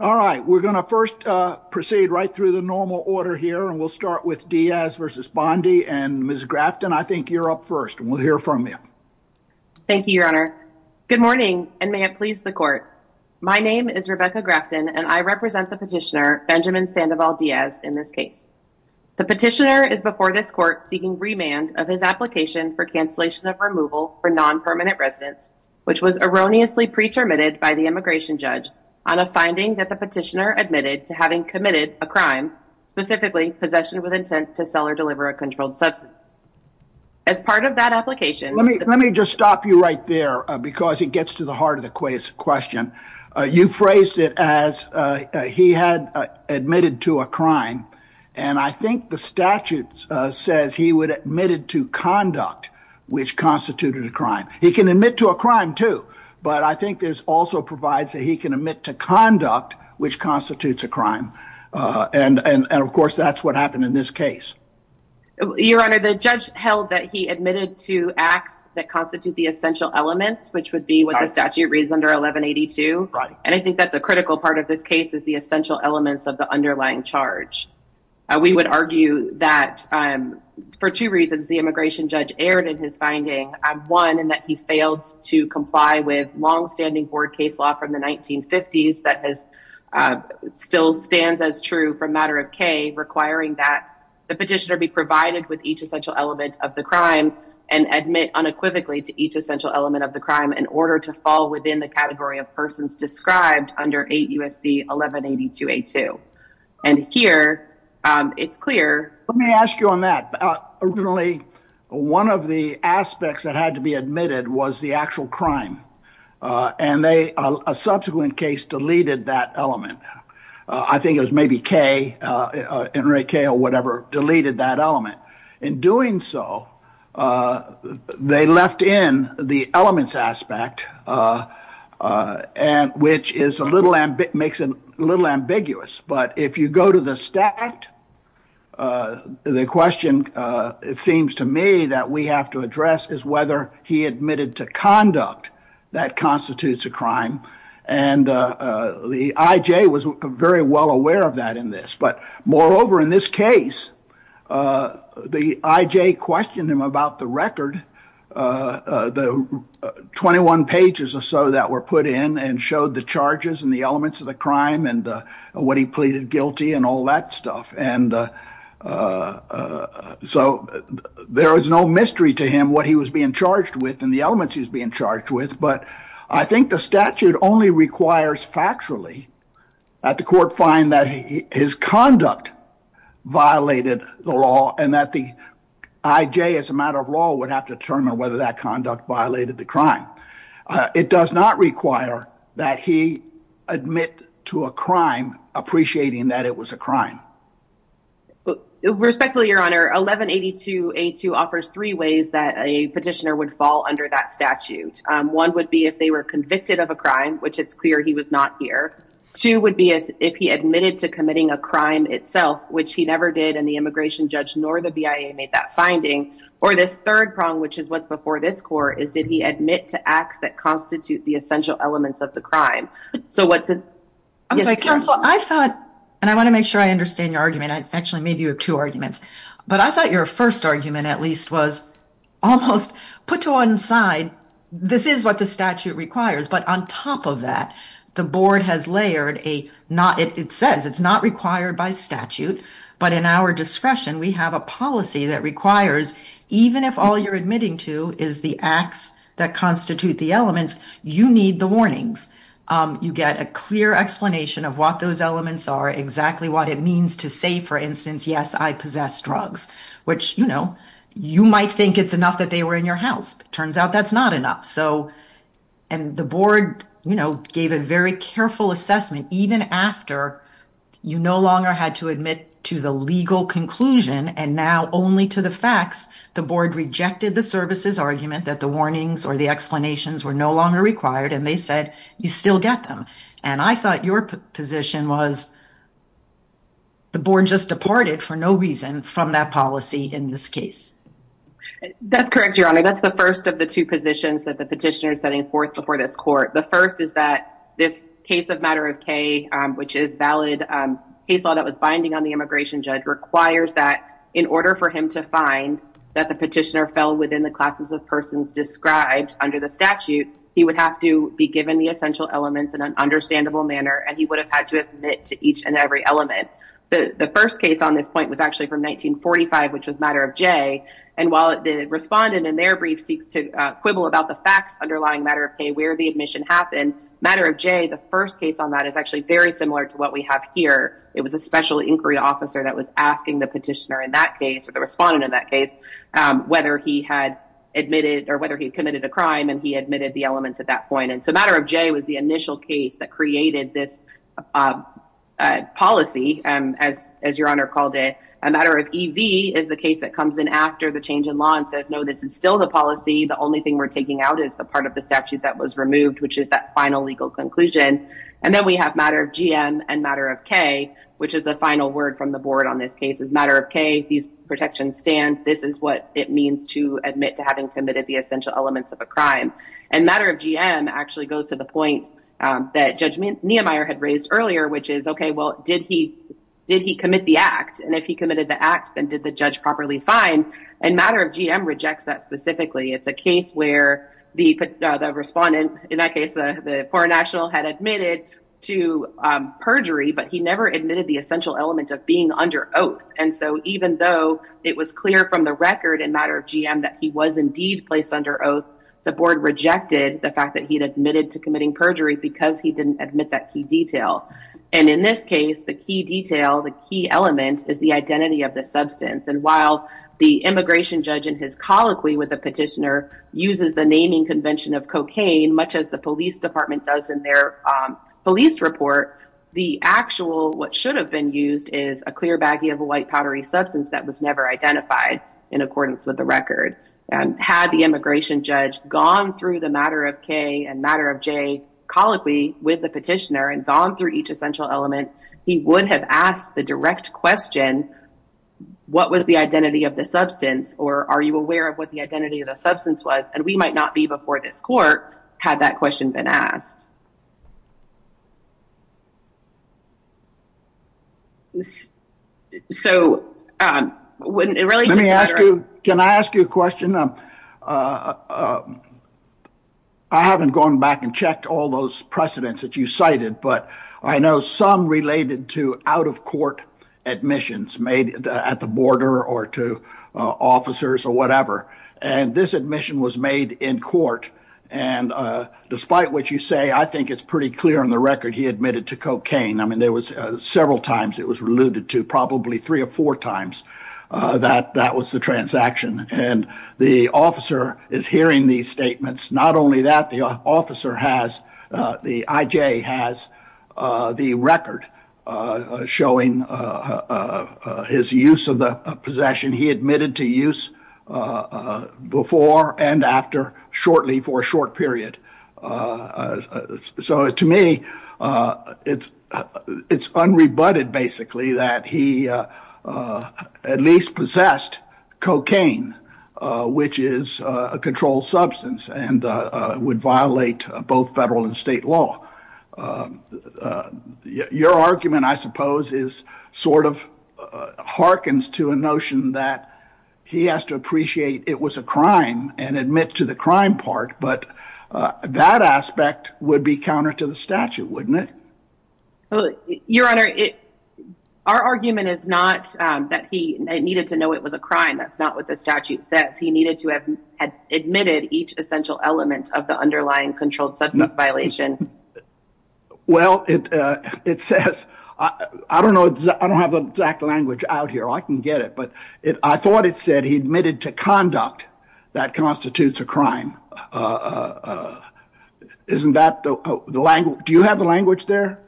All right, we're going to first proceed right through the normal order here and we'll start with Diaz versus Bondi and Ms. Grafton, I think you're up first and we'll hear from you. Thank you, your honor. Good morning and may it please the court. My name is Rebecca Grafton and I represent the petitioner Benjamin Sandoval Diaz in this case. The petitioner is before this court seeking remand of his application for cancellation of removal for non-permanent residence, which was erroneously pre-terminated by the immigration judge on a finding that the petitioner admitted to having committed a crime, specifically possession with intent to sell or deliver a controlled substance. As part of that application- Let me just stop you right there because it gets to the heart of the question. You phrased it as he had admitted to a crime and I think the statute says he would have admitted to conduct which constituted a crime. He can admit to a crime too, but I think this also provides that he can admit to conduct which constitutes a crime and of course that's what happened in this case. Your honor, the judge held that he admitted to acts that constitute the essential elements, which would be what the statute reads under 1182 and I think that's a critical part of this case is the essential elements of the underlying charge. We would argue that for two reasons, the immigration judge erred in his finding. One, in that he failed to comply with long-standing board case law from the 1950s that still stands as true from matter of K requiring that the petitioner be provided with each essential element of the crime and admit unequivocally to each essential element of the crime in order to fall within the category of persons described under 8 U.S.C. 1182A2 and here it's clear. Let me ask you on that. Originally, one of the aspects that had to be admitted was the actual crime and a subsequent case deleted that element. I think it was maybe K or whatever deleted that element. In doing so, they left in the elements aspect, which makes it a little ambiguous, but if you go to the statute, the question it seems to me that we have to address is whether he admitted to conduct that constitutes a crime, and the I.J. was very well aware of that in this, but moreover, in this case, the I.J. questioned him about the record, the 21 pages or so that were put in and showed the charges and the elements of the crime and what he pleaded guilty and all that stuff, and so there is no mystery to him what he was being charged with and the elements he was being charged with, but I think the statute only requires factually that the court find that his conduct violated the law and that the I.J. as a matter of law would have to determine whether that conduct violated the crime. It does not require that he admit to a crime appreciating that it was a crime. Respectfully, your honor, 1182A2 offers three ways that a petitioner would fall under that statute. One would be if they were convicted of a crime, which it's clear he was not here. Two would be if he admitted to committing a crime itself, which he never did and the immigration judge nor the BIA made that finding, or this third prong, which is what's before this court, is did he admit to acts that constitute the essential elements of the crime. So what's it? I'm sorry, counsel, I thought, and I want to make sure I understand your argument, I actually made you two arguments, but I thought your first argument at least was almost put to one side, this is what the statute requires, but on top of that, the board has layered a not, it says it's not required by statute, but in our discretion, we have a policy that requires even if all you're admitting to is the acts that constitute the elements, you need the warnings. You get a clear explanation of what those elements are, exactly what it means to say, for instance, yes, I possess drugs, which you might think it's enough that they were in your house. Turns out that's not enough. And the board gave a very careful assessment, even after you no longer had to admit to the legal conclusion and now only to the facts, the board rejected the services argument that the warnings or the explanations were no longer required and they said, you still get them. And I thought your position was the board just departed for no reason from that policy in this case. That's correct, your honor. That's the first of the two positions that the petitioner is setting forth before this court. The first is that this case of matter of K, which is valid, case law that was binding on the immigration judge requires that in order for him to find that the petitioner fell within the classes of persons described under the statute, he would have to be given the essential elements in an understandable manner and he would have had to admit to each and every element. The first case on this point was actually from 1945, which was matter of J. And while the respondent in their brief seeks to quibble about the facts underlying matter of K, where the admission happened, matter of J, the first case on that is actually very similar to what we have here. It was a special inquiry officer that was asking the petitioner in that case or the respondent in that case, whether he had admitted or whether he admitted the elements at that point. And so matter of J was the initial case that created this policy as your honor called it. A matter of EV is the case that comes in after the change in law and says, no, this is still the policy. The only thing we're taking out is the part of the statute that was removed, which is that final legal conclusion. And then we have matter of GM and matter of K, which is the final word from the board on this case is matter of K. These protections stand. This is what it means to admit to having committed the essential elements of a crime. And matter of GM actually goes to the point that judgment Nehemiah had raised earlier, which is, OK, well, did he did he commit the act? And if he committed the act, then did the judge properly fine? And matter of GM rejects that specifically. It's a case where the the respondent in that case, the poor national had admitted to perjury, but he never admitted the essential element of being under oath. And so even though it was clear from the record and matter of GM that he was indeed placed under oath, the board rejected the fact that he'd admitted to committing perjury because he didn't admit that key detail. And in this case, the key detail, the key element is the identity of the substance. And while the immigration judge in his colloquy with the petitioner uses the naming convention of cocaine, much as the police department does in their police report, the actual what should have been used is a clear baggie of a white powdery substance that was never identified in accordance with the record. And had the immigration judge gone through the matter of K and matter of J colloquy with the petitioner and gone through each essential element, he would have asked the direct question, what was the identity of the substance or are you aware of what the identity of the substance was? And we might not be before this court had that question been asked. So when it relates to the matter of- Can I ask you a question? I haven't gone back and checked all those precedents that you cited, but I know some related to out of court admissions made at the border or to officers or whatever. And this admission was made in court. And despite what you say, I think it's pretty clear on the record he admitted to cocaine. I mean, there was several times it was alluded to, probably three or four times that that was the transaction. And the officer is hearing these statements. Not only that, the officer has, the IJ has the record showing his use of the possession. He admitted to use before and after shortly for a short period. So to me, it's unrebutted, basically, that he at least possessed cocaine, which is a controlled substance and would violate both federal and state law. Your argument, I suppose, is sort of harkens to a notion that he has to appreciate it was a crime and admit to the crime part. But that aspect would be counter to the statute, wouldn't it? Your Honor, our argument is not that he needed to know it was a crime. That's not what the statute says. He needed to have admitted each essential element of the underlying controlled substance violation. Well, it says, I don't know. I don't have the exact language out here. I can get it. But I thought it said he admitted to conduct that constitutes a crime. Isn't that the language? Do you have the language there?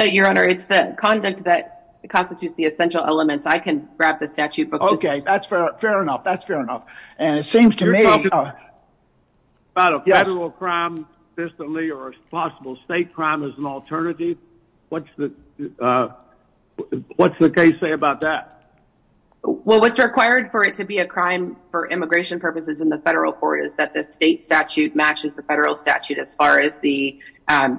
Your Honor, it's the conduct that constitutes the essential elements. I can grab the statute. Okay. That's fair enough. That's fair enough. And it seems to me... You're talking about a federal crime consistently or a possible state crime as an alternative? What's the case say about that? Well, what's required for it to be a crime for immigration purposes in the federal court is that the state statute matches the federal statute as far as the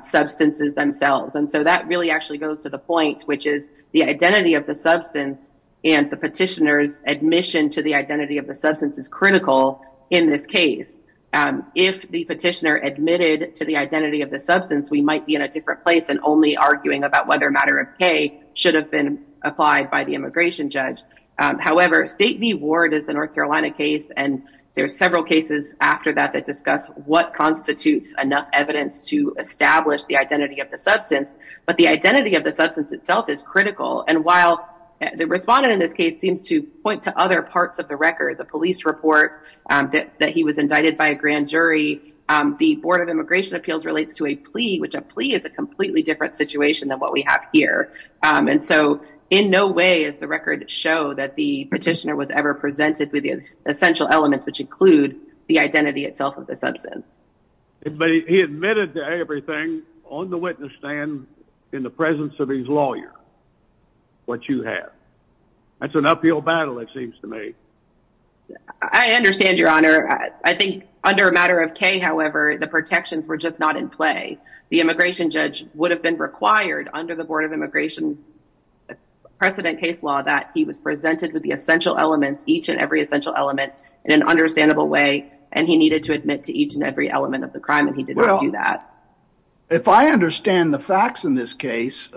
substances themselves. And so that really actually goes to the point, which is the identity of the substance and the petitioner's admission to the identity of the substance is critical in this case. If the petitioner admitted to the identity of the substance, we might be in a different place and only arguing about whether a matter of pay should have been applied by the immigration judge. However, State v. Ward is the North Carolina case. And there are several cases after that that discuss what constitutes enough evidence to establish the identity of the substance, but the identity of the substance itself is critical. And while the respondent in this case seems to point to other parts of the record, the police report that he was indicted by a grand jury, the Board of Immigration Appeals relates to a plea, which a plea is a completely different situation than what we have here. And so in no way is the record show that the petitioner was ever presented with the essential elements, which include the identity itself of the substance. But he admitted to everything on the witness stand in the presence of his lawyer, what you have. That's an uphill battle, it seems to me. I understand, Your Honor. I think under a matter of K, however, the protections were just not in play. The immigration judge would have been required under the Board of Immigration precedent case law that he was presented with the essential elements, each and every essential element in an understandable way, and he needed to admit to each and every element of the crime, and he did not do that. Well, if I understand the facts in this case,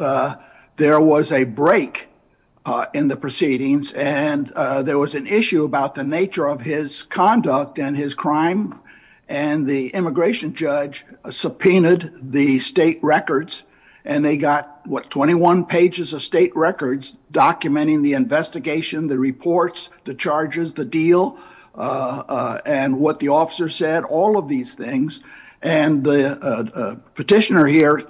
there was a break in the proceedings, and there was an issue about the nature of his conduct and his crime, and the immigration judge subpoenaed the state records, and they got, what, 21 pages of state records documenting the investigation, the reports, the charges, the deal, and what the officer said, all of these things. And the petitioner here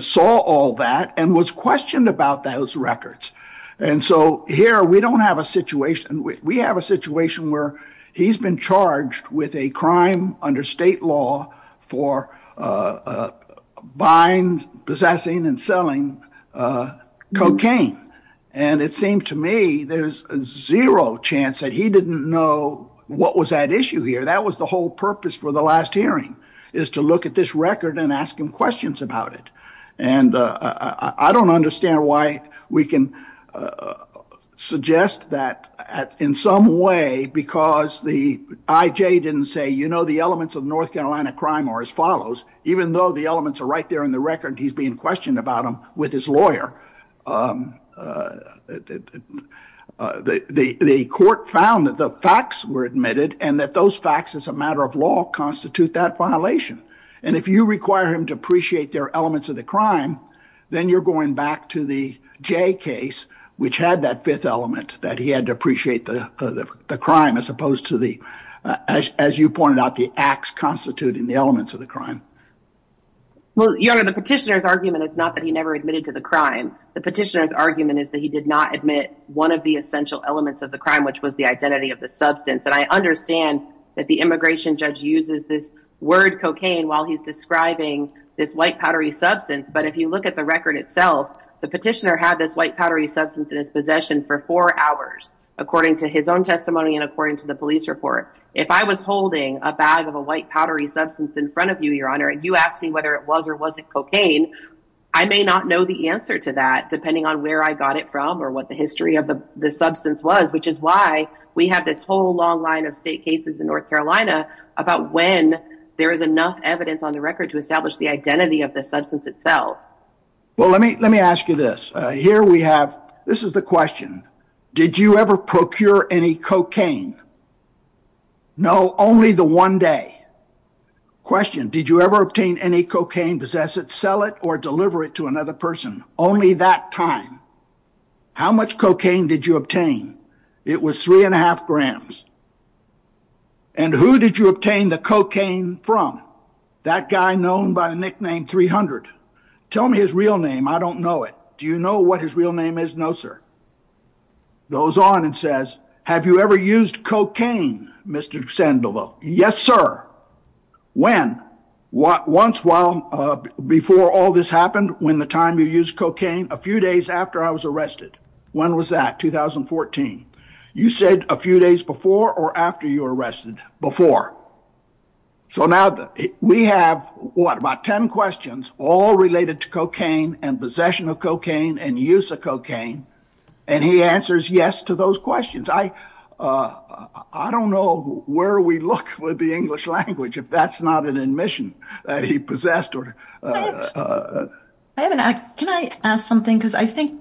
saw all that and was questioned about those records. And so here we don't have a situation, we have a situation where he's been with a crime under state law for buying, possessing, and selling cocaine, and it seems to me there's zero chance that he didn't know what was at issue here. That was the whole purpose for the last hearing, is to look at this record and ask him questions about it. And I don't understand why we can suggest that in some way, because the IJ didn't say, you know, the elements of North Carolina crime are as follows, even though the elements are right there in the record, he's being questioned about them with his lawyer. The court found that the facts were admitted, and that those facts as a matter of law constitute that violation. And if you require him to say that, I don't think that's the case. I think it's the IJ case, which had that fifth element, that he had to appreciate the crime as opposed to the, as you pointed out, the acts constituting the elements of the crime. Well, your honor, the petitioner's argument is not that he never admitted to the crime. The petitioner's argument is that he did not admit one of the essential elements of the crime, which was the identity of the substance. And I understand that the he's describing this white powdery substance. But if you look at the record itself, the petitioner had this white powdery substance in his possession for four hours, according to his own testimony and according to the police report. If I was holding a bag of a white powdery substance in front of you, your honor, and you asked me whether it was or wasn't cocaine, I may not know the answer to that, depending on where I got it from or what the history of the substance was, which is why we have this whole long line of state cases in North Carolina about when there is enough evidence on the record to establish the identity of the substance itself. Well, let me ask you this. Here we have, this is the question. Did you ever procure any cocaine? No, only the one day. Question, did you ever obtain any cocaine, possess it, sell it, or deliver it to another person? Only that time. How much cocaine did you obtain? It was three and a half grams. And who did you obtain the cocaine from? That guy known by the nickname 300. Tell me his real name. I don't know it. Do you know what his real name is? No, sir. Goes on and says, have you ever used cocaine, Mr. Sandoval? Yes, sir. When? Once while before all this happened, when the time you used cocaine, a few days after I was arrested. When was that? 2014. You said a few days before or after you were arrested? Before. So now we have what, about 10 questions, all related to cocaine and possession of cocaine and use of cocaine. And he answers yes to those questions. I don't know where we look with the English language, if that's not an admission that he possessed. Can I ask something? Because I think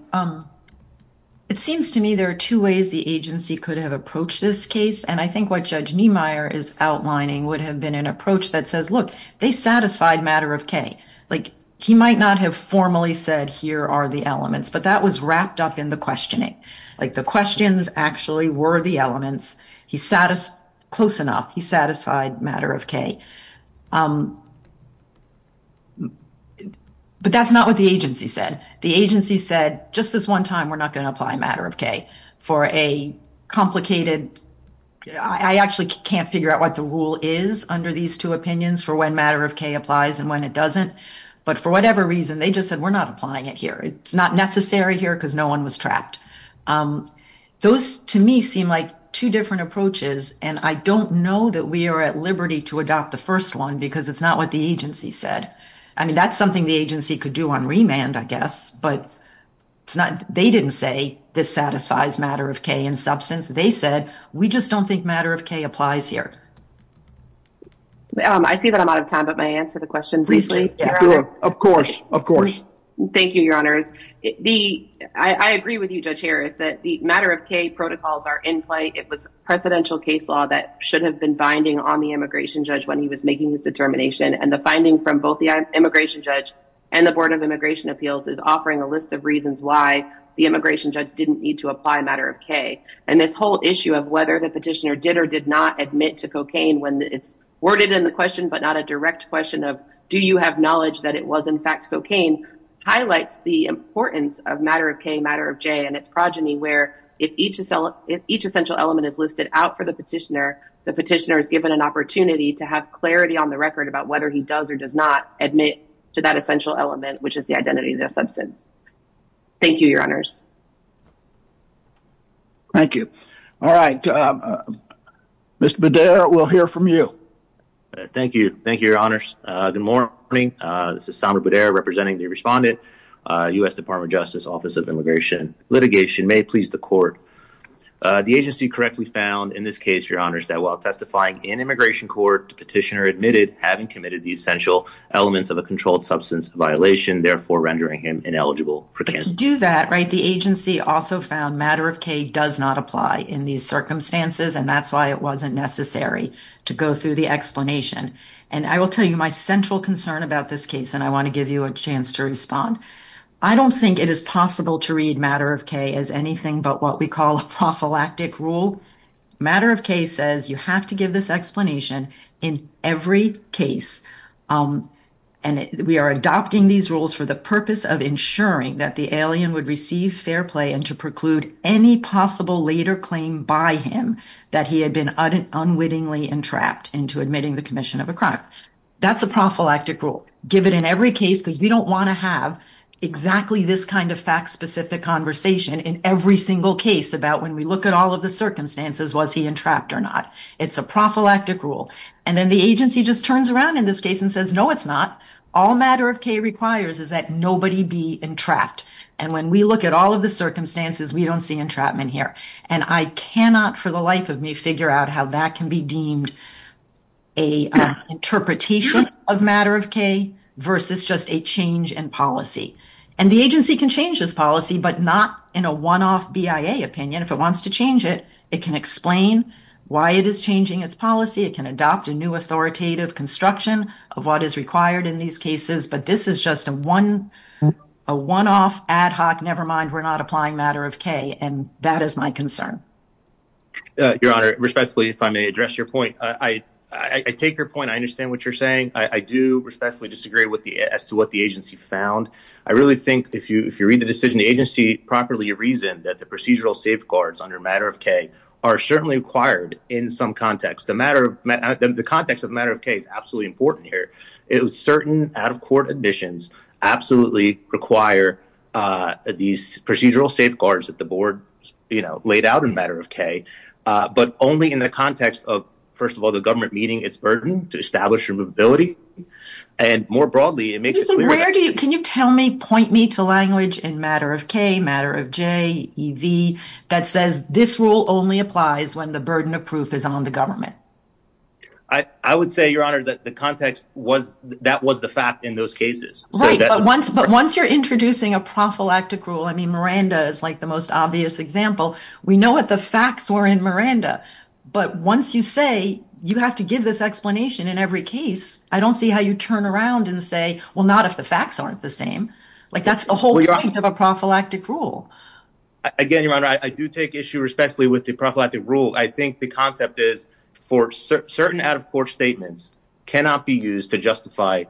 it seems to me there are two ways the agency could have approached this case. And I think what Judge Niemeyer is outlining would have been an approach that says, look, they satisfied matter of K. Like he might not have formally said, here are the elements, but that was wrapped up in the questioning. Like the questions actually were the elements. He sat us close enough. He satisfied matter of K. But that's not what the agency said. The agency said just this one time, we're not going to apply matter of K for a complicated, I actually can't figure out what the rule is under these two opinions for when matter of K applies and when it doesn't. But for whatever reason, they just said, we're not applying it here. It's not necessary here because no one was trapped. Those to me seem like two different approaches. And I don't know that we are at liberty to adopt the first one, because it's not what the agency said. I mean, that's the agency could do on remand, I guess. But they didn't say this satisfies matter of K in substance. They said, we just don't think matter of K applies here. I see that I'm out of time, but may I answer the question briefly? Of course. Of course. Thank you, Your Honors. I agree with you, Judge Harris, that the matter of K protocols are in play. It was presidential case law that should have been binding on the immigration judge when he was making his determination. And the finding from both the immigration judge and the Board of Immigration Appeals is offering a list of reasons why the immigration judge didn't need to apply matter of K. And this whole issue of whether the petitioner did or did not admit to cocaine when it's worded in the question, but not a direct question of, do you have knowledge that it was, in fact, cocaine, highlights the importance of matter of K, matter of J, and its progeny, where if each essential element is listed out for the petitioner, the petitioner is given an opportunity to have clarity on the record about whether he does or does not admit to that essential element, which is the identity of the offensive. Thank you, Your Honors. Thank you. All right. Mr. Bader, we'll hear from you. Thank you. Thank you, Your Honors. Good morning. This is Samir Bader representing the respondent, U.S. Department of Justice, Office of Immigration Litigation. May it please the court. The agency correctly found in this case, Your Honors, that while testifying in immigration court, the petitioner admitted having committed the essential elements of a controlled substance violation, therefore rendering him ineligible for cocaine. But to do that, right, the agency also found matter of K does not apply in these circumstances, and that's why it wasn't necessary to go through the explanation. And I will tell you my central concern about this case, and I want to give you a chance to respond. I don't think it is possible to read matter of K as anything but what we call a prophylactic rule. Matter of K says you have to give this explanation in every case. And we are adopting these rules for the purpose of ensuring that the alien would receive fair play and to preclude any possible later claim by him that he had been unwittingly entrapped into admitting the commission of a crime. That's a prophylactic rule. Give it in every case because we don't want to have exactly this kind of fact-specific conversation in every single case about when we look at all of the circumstances, was he entrapped or not? It's a prophylactic rule. And then the agency just turns around in this case and says, no, it's not. All matter of K requires is that nobody be entrapped. And when we look at all of the circumstances, we don't see entrapment here. And I cannot for the life of me figure out how that can be deemed a interpretation of matter of K versus just a change in policy. And the agency can change this policy but not in a one-off BIA opinion. If it wants to change it, it can explain why it is changing its policy. It can adopt a new authoritative construction of what is required in these cases. But this is just a one-off ad hoc, never mind, we're not applying matter of K. And that is my concern. Your Honor, respectfully, if I may address your point, I take your point. I understand what you're saying. I do respectfully disagree as to what the agency found. I really think if you read the decision, the agency properly reasoned that the procedural safeguards under matter of K are certainly required in some context. The context of matter of K is absolutely important here. It was certain out-of-court admissions absolutely require these procedural safeguards that the board, you know, laid out in matter of K. But only in the context of, first of all, the government meeting its burden to establish removability. And more broadly, it makes it clear where do you, can you tell me, point me to language in matter of K, matter of J, EV, that says this rule only applies when the burden of proof is on the government. I would say, Your Honor, that the context was, that was the fact in those cases. Right. But once, but once you're introducing a prophylactic rule, I mean, Miranda is like the most obvious example. We know what the facts were in Miranda. But once you say you have to give this explanation in every case, I don't see how you turn around and say, well, not if the facts aren't the same. Like that's the whole point of a prophylactic rule. Again, Your Honor, I do take issue respectfully with the prophylactic rule. I think the concept is for certain out-of-court statements cannot be used to justify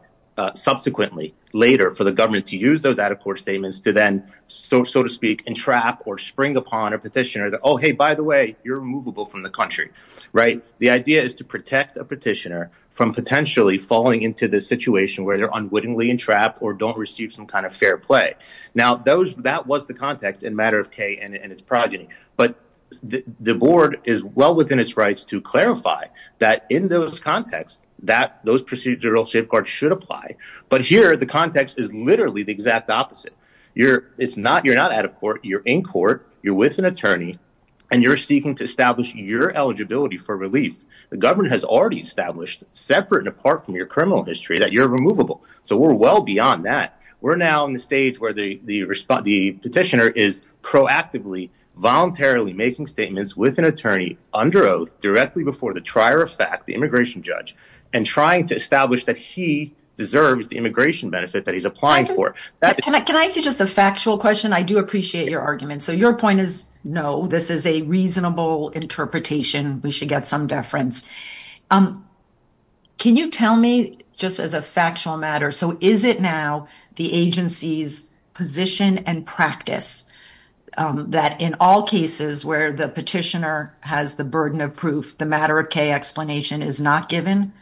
subsequently later for the government to use those out-of-court statements to then, so to speak, entrap or spring upon a petitioner that, oh, hey, by the way, you're removable from the country. Right. The idea is to protect a petitioner from potentially falling into this situation where they're unwittingly entrapped or don't receive some kind of fair play. Now, those that was the context in matter of K and its progeny. But the board is well within its rights to clarify that in those contexts that those procedural safeguards should apply. But here the context is literally the exact opposite. You're it's not you're not out of court. You're in court. You're with an attorney and you're seeking to establish your eligibility for relief. The government has already established separate and apart from your criminal history that you're removable. So we're well beyond that. We're now in the stage where the the petitioner is proactively, voluntarily making statements with an attorney under oath directly before the trier of fact, the immigration judge, and trying to establish that he deserves the immigration benefit that he's applying for. Can I ask you just a factual question? I do appreciate your argument. So your point is, no, this is a reasonable interpretation. We should get some deference. Can you tell me just as a factual matter, so is it now the agency's position and practice that in all cases where the petitioner has the burden of proof, the matter of K explanation is not given?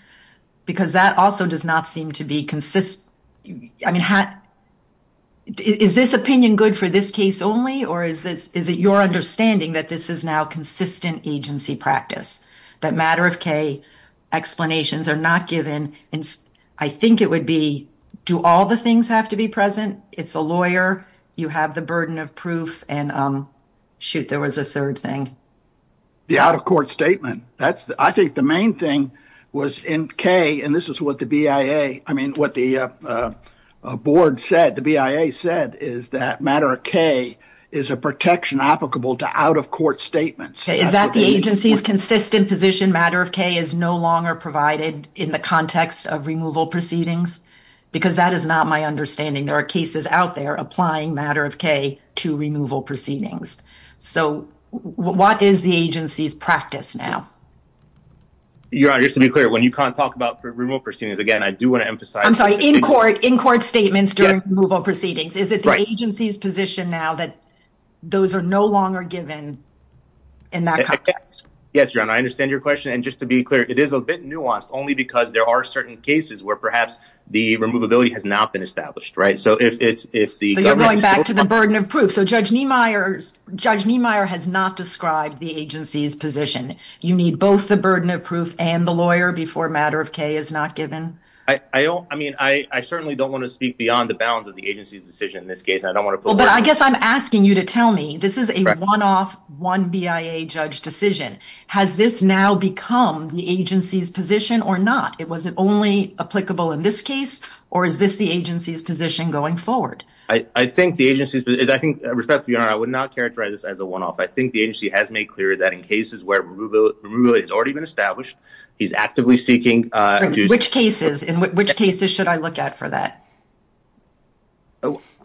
Because that also does not seem to be consistent. I mean, is this opinion good for this case only? Or is this is it your understanding that this is now consistent agency practice, that matter of K explanations are not given? And I think it would do all the things have to be present. It's a lawyer, you have the burden of proof and shoot, there was a third thing. The out of court statement. I think the main thing was in K, and this is what the BIA, I mean, what the board said, the BIA said is that matter of K is a protection applicable to out of court statements. Is that the agency's consistent position matter of K is no longer provided in the context of removal proceedings? Because that is not my understanding. There are cases out there applying matter of K to removal proceedings. So what is the agency's practice now? Your Honor, just to be clear, when you can't talk about removal proceedings, again, I do want to emphasize- I'm sorry, in court statements during removal proceedings. Is it the agency's position now that those are no longer given in that context? Yes, Your Honor, I understand your question. And just to be clear, it is a bit nuanced only because there are certain cases where perhaps the removability has not been established, right? So if it's- So you're going back to the burden of proof. So Judge Niemeyer has not described the agency's position. You need both the burden of proof and the lawyer before matter of K is not given? I don't, I mean, I certainly don't want to speak beyond the bounds of the agency's decision in this case. I don't want to- Well, but I guess I'm asking you to tell me, this is a one-off, one BIA judge decision. Has this now become the agency's position or not? Was it only applicable in this case, or is this the agency's position going forward? I think the agency's- I think, with respect to your Honor, I would not characterize this as a one-off. I think the agency has made clear that in cases where removal has already been established, he's actively seeking- Which cases? In which cases should I look at for that?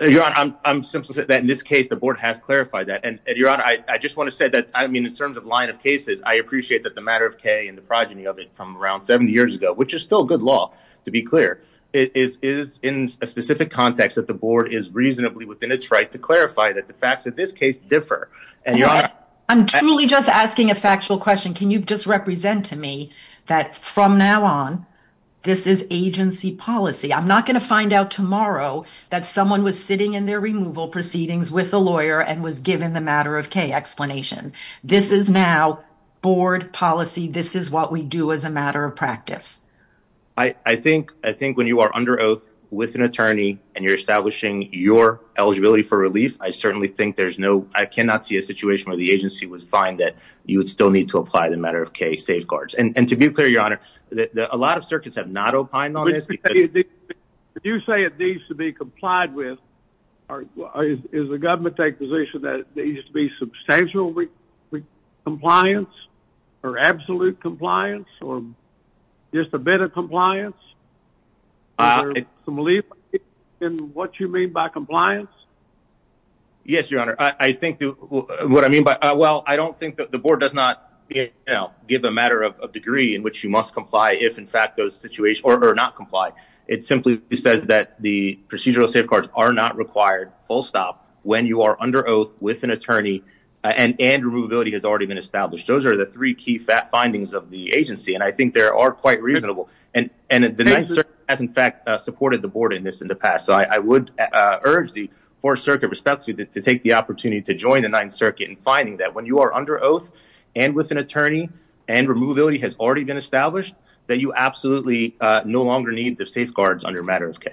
Your Honor, I'm simply saying that in this case, the board has clarified that. And your Honor, I just want to say that, I mean, in terms of line of cases, I appreciate that the matter of K and the progeny of it from around 70 years ago, which is still good law, to be clear, is in a specific context that the board is reasonably within its right to clarify that the facts of this case differ. And your Honor- I'm truly just asking a factual question. Can you just represent to me that from now on, this is agency policy? I'm not going to find out tomorrow that someone was sitting in their removal proceedings with a lawyer and was given the matter of K explanation. This is now board policy. This is what we do as a matter of practice. I think when you are under oath with an attorney and you're establishing your eligibility for relief, I certainly think there's no- I cannot see a situation where the agency would find that you would still need to apply the matter of K safeguards. And to be clear, your Honor, a lot of circuits have not opined on this. If you say it needs to be complied with, is the government taking a position that it needs to be substantial compliance or absolute compliance or just a bit of compliance? In what you mean by compliance? Yes, your Honor. I think what I mean by- well, I don't think that the board does not give a matter of degree in which you must comply if, in fact, those situations- or not comply. It simply says that the procedural safeguards are not required, full stop, when you are under oath with an attorney and removability has already been established. Those are the three key findings of the agency. And I think they are quite reasonable. And the Ninth Circuit has, in fact, supported the board in this in the past. So I would urge the Fourth Circuit, respectfully, to take the opportunity to join the Ninth Circuit in finding that when you are under oath and with an attorney and removability has already been established, that you absolutely no longer need the safeguards under a matter of K.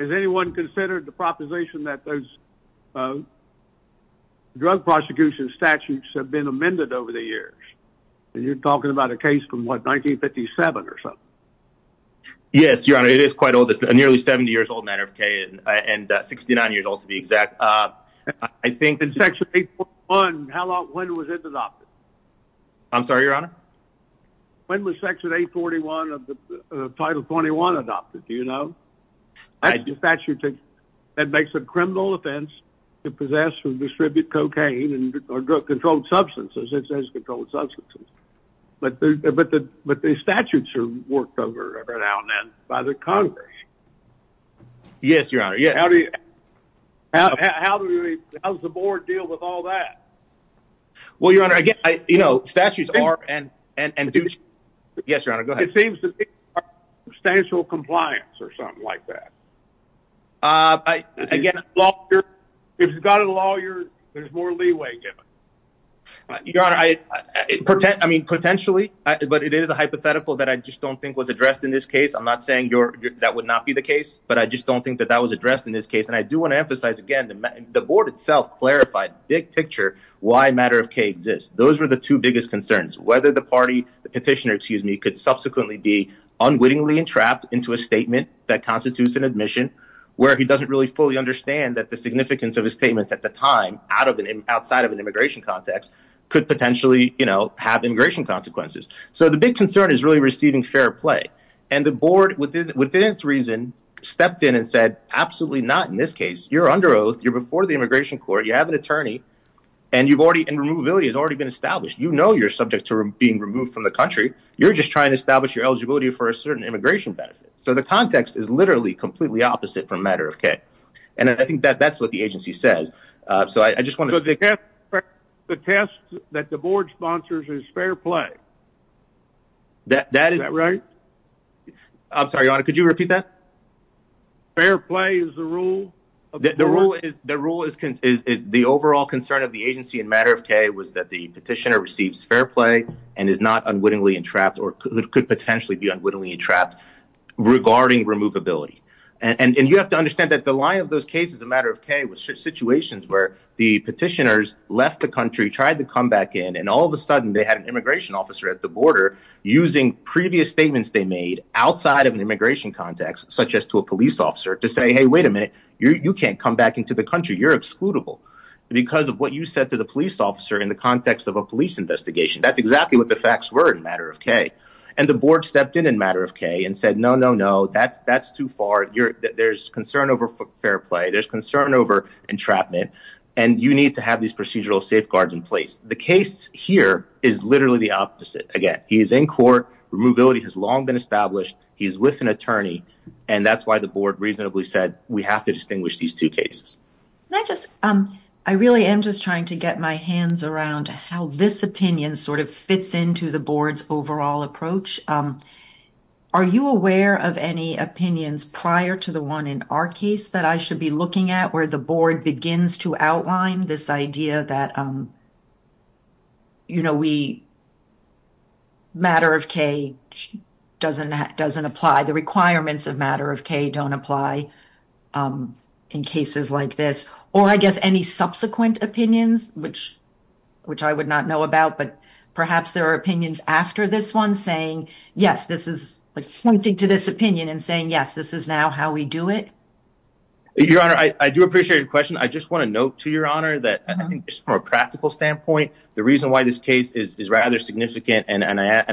Has anyone considered the proposition that those drug prosecution statutes have been amended over the years? And you're talking about a case from, what, 1957 or something? Yes, your Honor. It is quite old. It's a nearly 70 years old matter of K and 69 years old, to be exact. I think- In Section 841, how long- when was it adopted? I'm sorry, your Honor? When was Section 841 of the Title 21 adopted? Do you know? I do. That makes a criminal offense to possess or distribute cocaine or controlled substances. It says controlled substances. But the statutes are worked over by the Congress. Yes, your Honor. How does the board deal with all that? Well, your Honor, again, you know, statutes are- Yes, your Honor, go ahead. It seems to be substantial compliance or something like that. Again- If you've got a lawyer, there's more leeway given. Your Honor, I mean, potentially, but it is a hypothetical that I just don't think was addressed in this case. I'm not saying that would not be the case, but I just don't think that was addressed in this case. And I do want to emphasize, again, the board itself clarified, big picture, why matter of K exists. Those were the two biggest concerns. Whether the party, the petitioner, excuse me, could subsequently be unwittingly entrapped into a statement that constitutes an admission, where he doesn't really fully understand that the significance of his statements at the time, outside of an immigration context, could potentially, you know, have immigration consequences. So the big concern is really receiving fair play. And the board, within its reason, stepped in and said, absolutely not in this case, you're under oath, you're before the immigration court, you have an attorney, and you've already- and removability has already been established. You know you're subject to being removed from the country. You're just trying to establish your eligibility for a certain immigration benefit. So the context is literally completely opposite for matter of K. And I think that that's what the agency says. So I just want to- The test that the board sponsors is fair play. That is- I'm sorry, Your Honor, could you repeat that? Fair play is the rule? The rule is the overall concern of the agency in matter of K was that the petitioner receives fair play and is not unwittingly entrapped, or could potentially be unwittingly entrapped, regarding removability. And you have to understand that the line of those cases in matter of K was situations where the petitioners left the country, tried to come back in, and all of a sudden, they had an immigration officer at the border using previous statements they made outside of an immigration context, such as to a police officer, to say, hey, wait a minute. You can't come back into the country. You're excludable because of what you said to the police officer in the context of a police investigation. That's exactly what the facts were in matter of K. And the board stepped in in matter of K and said, no, no, no. That's too far. There's concern over fair play. There's concern over entrapment. And you need to have these procedural safeguards in place. The case here is literally the opposite. Again, he is in court. Removability has long been established. He is with an attorney. And that's why the board reasonably said we have to distinguish these two cases. I really am just trying to get my hands around how this opinion sort of fits into the board's overall approach. Are you aware of any opinions prior to the one in our case that I should be looking at where the board begins to outline this idea that matter of K doesn't apply, the requirements of matter of K don't apply in cases like this? Or I guess any subsequent opinions, which I would not know about, but perhaps there are opinions after this one saying, yes, this is pointing to this opinion and saying, yes, this is now how we do it. Your Honor, I do appreciate your question. I just want to note to Your Honor that I think just from a practical standpoint, the reason why this case is rather significant, and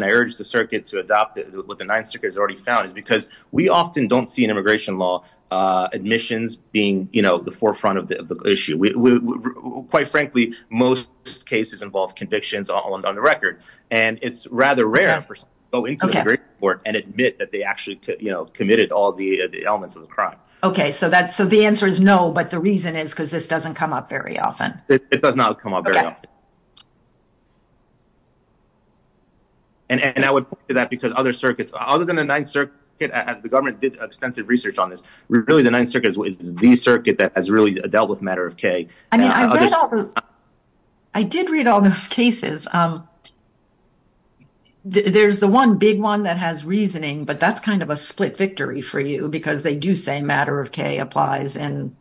I urge the circuit to adopt what the Ninth Circuit has already found is because we often don't see an immigration law admissions being, you know, the forefront of the issue. Quite frankly, most cases involve convictions on the record. And it's rather rare for someone to go into an immigration court and admit that they actually, you know, committed all the elements of the crime. Okay, so the answer is no, but the reason is because this doesn't come up very often. It does not come up very often. And I would point to that because other circuits, other than the Ninth Circuit, the government did extensive research on this. Really, the Ninth Circuit is the circuit that has really dealt with matter of K. I did read all those cases. There's the one big one that has reasoning, but that's kind of a split victory for you, because they do say matter of K applies in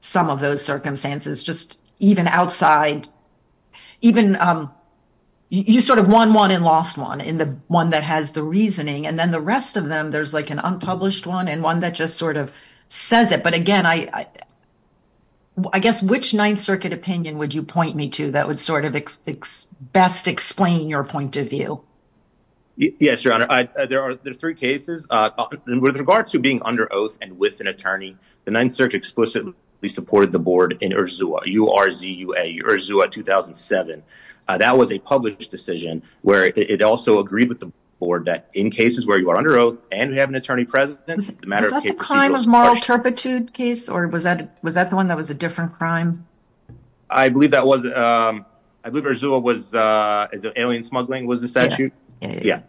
some of those circumstances, just even outside, even you sort of won one and lost one in the one that has the reasoning. And then the rest of them, there's like an unpublished one and one that just sort of says it. But again, I guess, which Ninth Circuit opinion would you point me to that would sort of best explain your point of view? Yes, Your Honor, there are three cases. With regard to being under oath and with an attorney, the Ninth Circuit explicitly supported the board in URZUA 2007. That was a published decision where it also agreed with the board that in cases where you are under oath and we have an attorney president. Was that the crime of moral turpitude case or was that the one that was a different crime? I believe that was. I believe URZUA was alien smuggling was the statute. Yeah.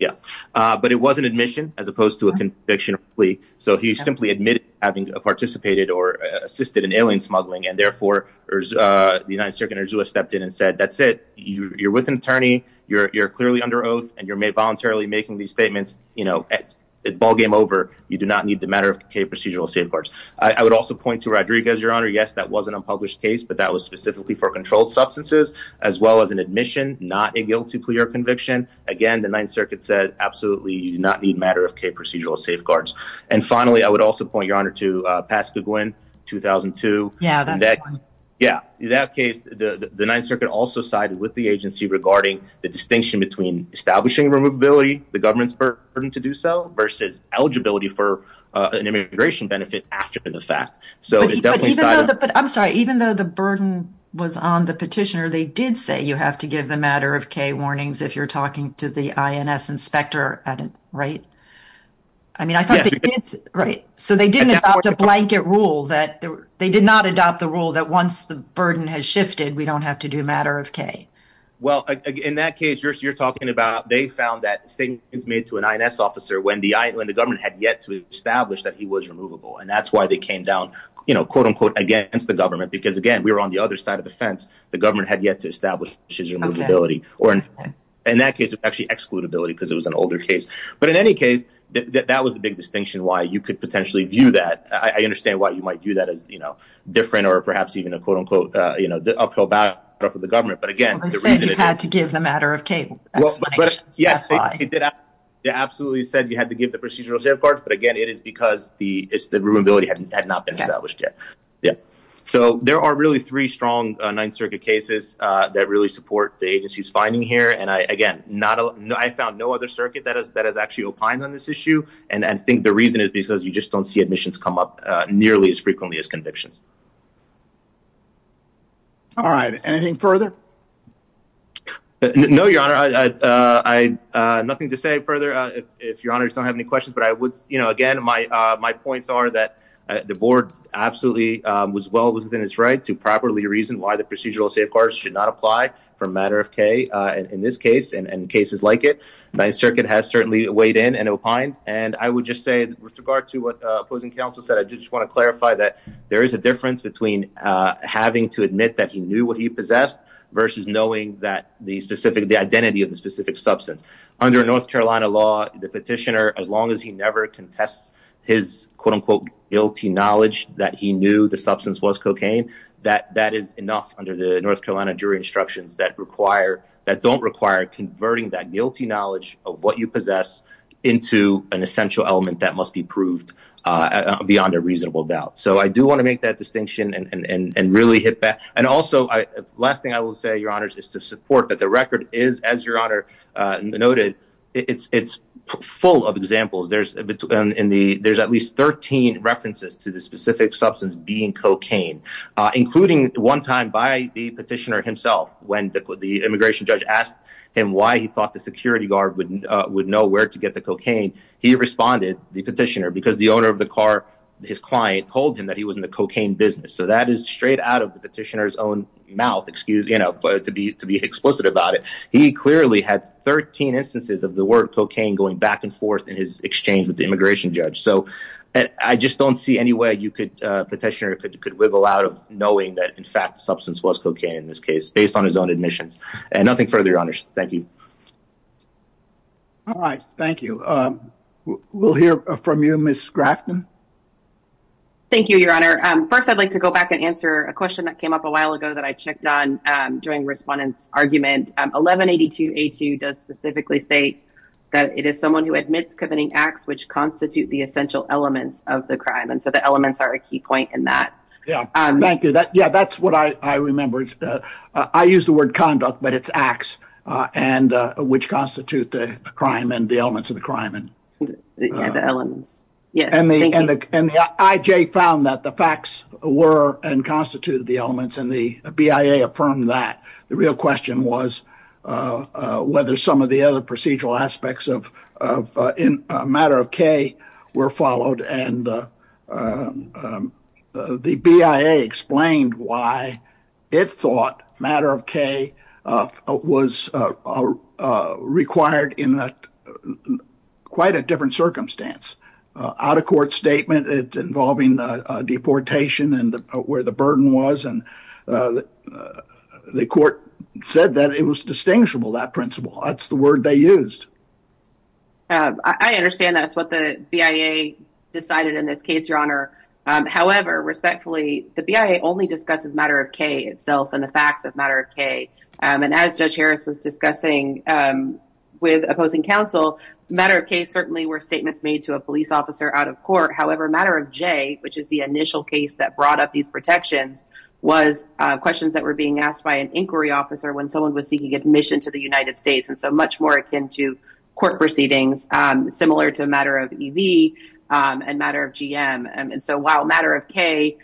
Yeah. But it was an admission as opposed to a conviction plea. So he simply admitted having participated or assisted in alien smuggling. And therefore, the United Circuit stepped in and said, that's it. You're with an attorney. You're clearly under oath and you're voluntarily making these statements. You know, it's ballgame over. You do not need the matter of procedural safeguards. I would also point to Rodriguez, Your Honor. Yes, that was an unpublished case, but that was specifically for controlled substances, as well as an admission, not a guilty plea or conviction. Again, the Ninth Circuit said, absolutely, you do not need matter of procedural safeguards. And finally, I would also point, Your Honor, to Pascagouin 2002. Yeah, that case, the Ninth Circuit also sided with the agency regarding the distinction between establishing removability, the government's burden to do so versus eligibility for an immigration benefit after the fact. But I'm sorry, even though the burden was on the petitioner, they did say you have to give the matter of K warnings if you're talking to the INS inspector. Right. I mean, I think it's right. So they didn't adopt a blanket rule that they did not adopt the rule that once the burden has shifted, we don't have to do matter of K. Well, in that case, you're talking about they found that statements made to an INS officer when the government had yet to establish that he was removable. And that's why they came down, you know, quote, unquote, against the government. Because again, we were on the other side of the fence, the government had yet to establish his removability or, in that case, actually excludability because it was an older case. But in any case, that was the big distinction why you could potentially view that I understand why you might view that as, you know, different or perhaps even a quote, unquote, you know, the uphill battle for the government. But again, I said you had to the matter of K. Absolutely said you had to give the procedural safeguards. But again, it is because the is the room ability had not been established yet. Yeah. So there are really three strong Ninth Circuit cases that really support the agency's finding here. And I again, not a no, I found no other circuit that has that has actually opined on this issue. And I think the reason is because you just don't see admissions come up nearly as frequently as convictions. All right, anything further? No, your honor. I have nothing to say further. If your honors don't have any questions, but I would, you know, again, my my points are that the board absolutely was well within its right to properly reason why the procedural safeguards should not apply for a matter of K in this case and in cases like it. The Ninth Circuit has certainly weighed in and opined. And I would just say with regard to what opposing counsel said, I just want to clarify that there is a difference between having to admit that he knew what he possessed versus knowing that these the identity of the specific substance under North Carolina law, the petitioner, as long as he never contests his, quote unquote, guilty knowledge that he knew the substance was cocaine, that that is enough under the North Carolina jury instructions that require that don't require converting that guilty knowledge of what you possess into an essential element that must be proved beyond a reasonable doubt. So I do want to make that distinction and really hit And also, last thing I will say, your honors is to support that the record is, as your honor noted, it's it's full of examples. There's a bit in the there's at least 13 references to the specific substance being cocaine, including one time by the petitioner himself, when the immigration judge asked him why he thought the security guard wouldn't would know where to get the cocaine. He responded the petitioner because the owner of the car, his client told him that he was in the mouth, excuse, you know, to be to be explicit about it. He clearly had 13 instances of the word cocaine going back and forth in his exchange with the immigration judge. So I just don't see any way you could petitioner could you could wiggle out of knowing that, in fact, substance was cocaine in this case based on his own admissions and nothing further. Thank you. All right. Thank you. We'll hear from you, Miss Grafton. Thank you, your honor. First, I'd like to go back and answer a question that came up a while ago that I checked on during respondents argument 1182. He does specifically say that it is someone who admits committing acts which constitute the essential elements of the crime. And so the elements are a key point in that. Yeah, thank you. Yeah, that's what I remember. I use the word conduct, but it's acts and which constitute the crime and the elements of the crime and the elements. Yeah. And the IJ found that the facts were and constituted the elements and the BIA affirmed that. The real question was whether some of the other procedural aspects of matter of K were followed. And the BIA explained why it thought matter of K was are required in quite a different circumstance. Out of court statement involving deportation and where the burden was. And the court said that it was distinguishable that principle. That's the word they used. I understand that's what the BIA decided in this case, your honor. However, respectfully, the BIA only discusses matter of K itself and the facts of matter of K. And as Judge Harris was discussing with opposing counsel, matter of K certainly were statements made to a police officer out of court. However, matter of J, which is the initial case that brought up these protections, was questions that were being asked by an inquiry officer when someone was seeking admission to the United States. And so much more akin to court proceedings, similar to a matter of EV and matter of GM. And so while matter of K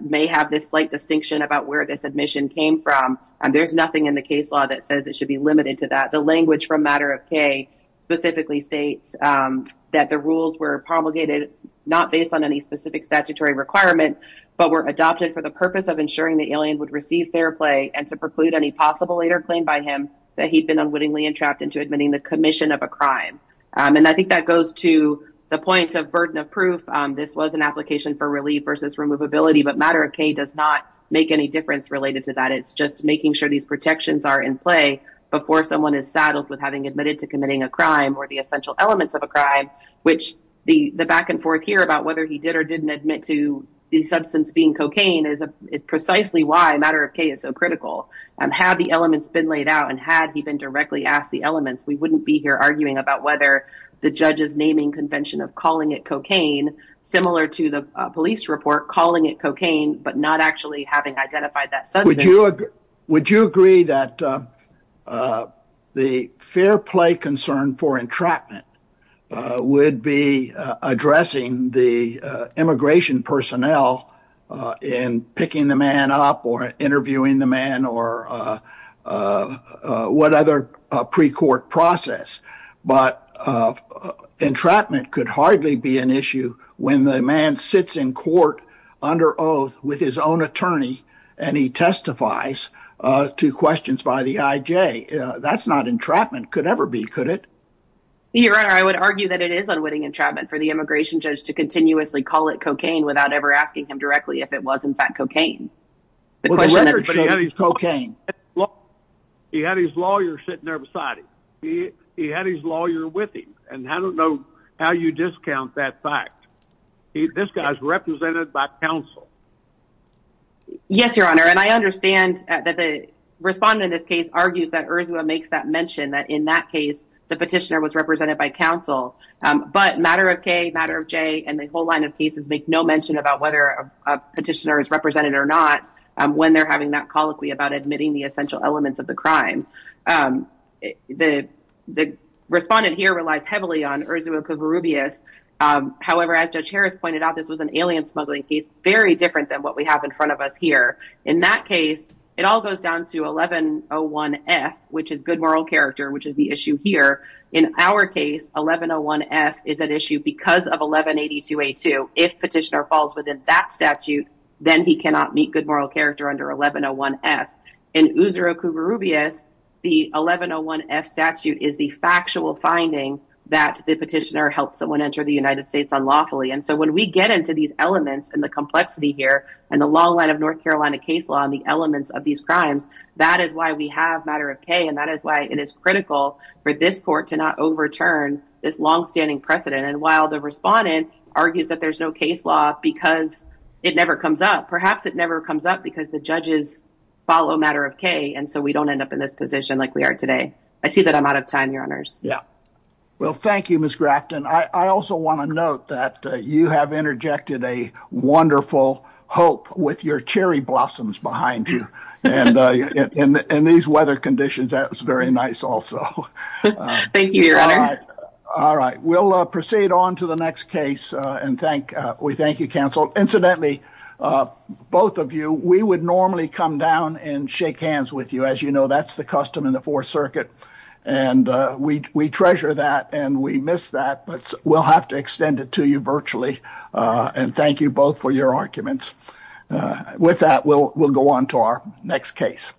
may have this slight distinction about where this admission came from, there's nothing in the case law that says it should be limited to that. The language from matter of K specifically states that the rules were promulgated not based on any specific statutory requirement, but were adopted for the purpose of ensuring the alien would receive fair play and to preclude any possible later claim by him that he'd been unwittingly entrapped into admitting the commission of a crime. And I think that goes to the point of burden of proof. This was an application for relief versus removability, but matter of K does not make any difference related to that. It's just making sure these protections are in play before someone is saddled with having admitted to committing a crime or the essential elements of a crime, which the back and forth here about whether he did or didn't admit to the substance being cocaine is precisely why matter of K is so critical. Had the elements been laid out and had he been directly asked the elements, we wouldn't be here arguing about whether the judge's naming convention of calling it cocaine, similar to the police report, calling it cocaine, but not actually having identified that substance. Would you agree that the fair play concern for entrapment would be addressing the immigration personnel in picking the man up or interviewing the man or what other pre-court process, but entrapment could hardly be an issue when the man sits in court under oath with his own attorney and he testifies to questions by the IJ. That's not entrapment, could ever be, could it? Your Honor, I would argue that it is unwitting entrapment for the immigration judge to continuously call it cocaine without ever asking him directly if it was in fact cocaine. He had his lawyer sitting there beside him. He had his lawyer with him. And I don't know how you discount that fact. This guy's represented by counsel. Yes, Your Honor. And I understand that the respondent in this case argues that Urzula makes that mention that in that case, the petitioner was represented by counsel. But matter of K, matter of J and the whole line of cases make no mention about whether a petitioner is represented or not when they're having that admitting the essential elements of the crime. The respondent here relies heavily on Urzula Kovarubias. However, as Judge Harris pointed out, this was an alien smuggling case, very different than what we have in front of us here. In that case, it all goes down to 1101F, which is good moral character, which is the issue here. In our case, 1101F is an issue because of 1182A2. If in Urzula Kovarubias, the 1101F statute is the factual finding that the petitioner helped someone enter the United States unlawfully. And so when we get into these elements and the complexity here and the long line of North Carolina case law and the elements of these crimes, that is why we have matter of K. And that is why it is critical for this court to not overturn this longstanding precedent. And while the respondent argues that there's no case law because it never comes up, perhaps it never comes up because the judges follow matter of K. And so we don't end up in this position like we are today. I see that I'm out of time, Your Honors. Yeah. Well, thank you, Ms. Grafton. I also want to note that you have interjected a wonderful hope with your cherry blossoms behind you. And in these weather conditions, that's very nice also. Thank you, Your Honor. All right. We'll proceed on to the next case. And we thank you, counsel. Incidentally, both of you, we would normally come down and shake hands with you. As you know, that's the custom in the Fourth Circuit. And we treasure that and we miss that. But we'll have to extend it to you virtually. And thank you both for your arguments. With that, we'll go on to our next case.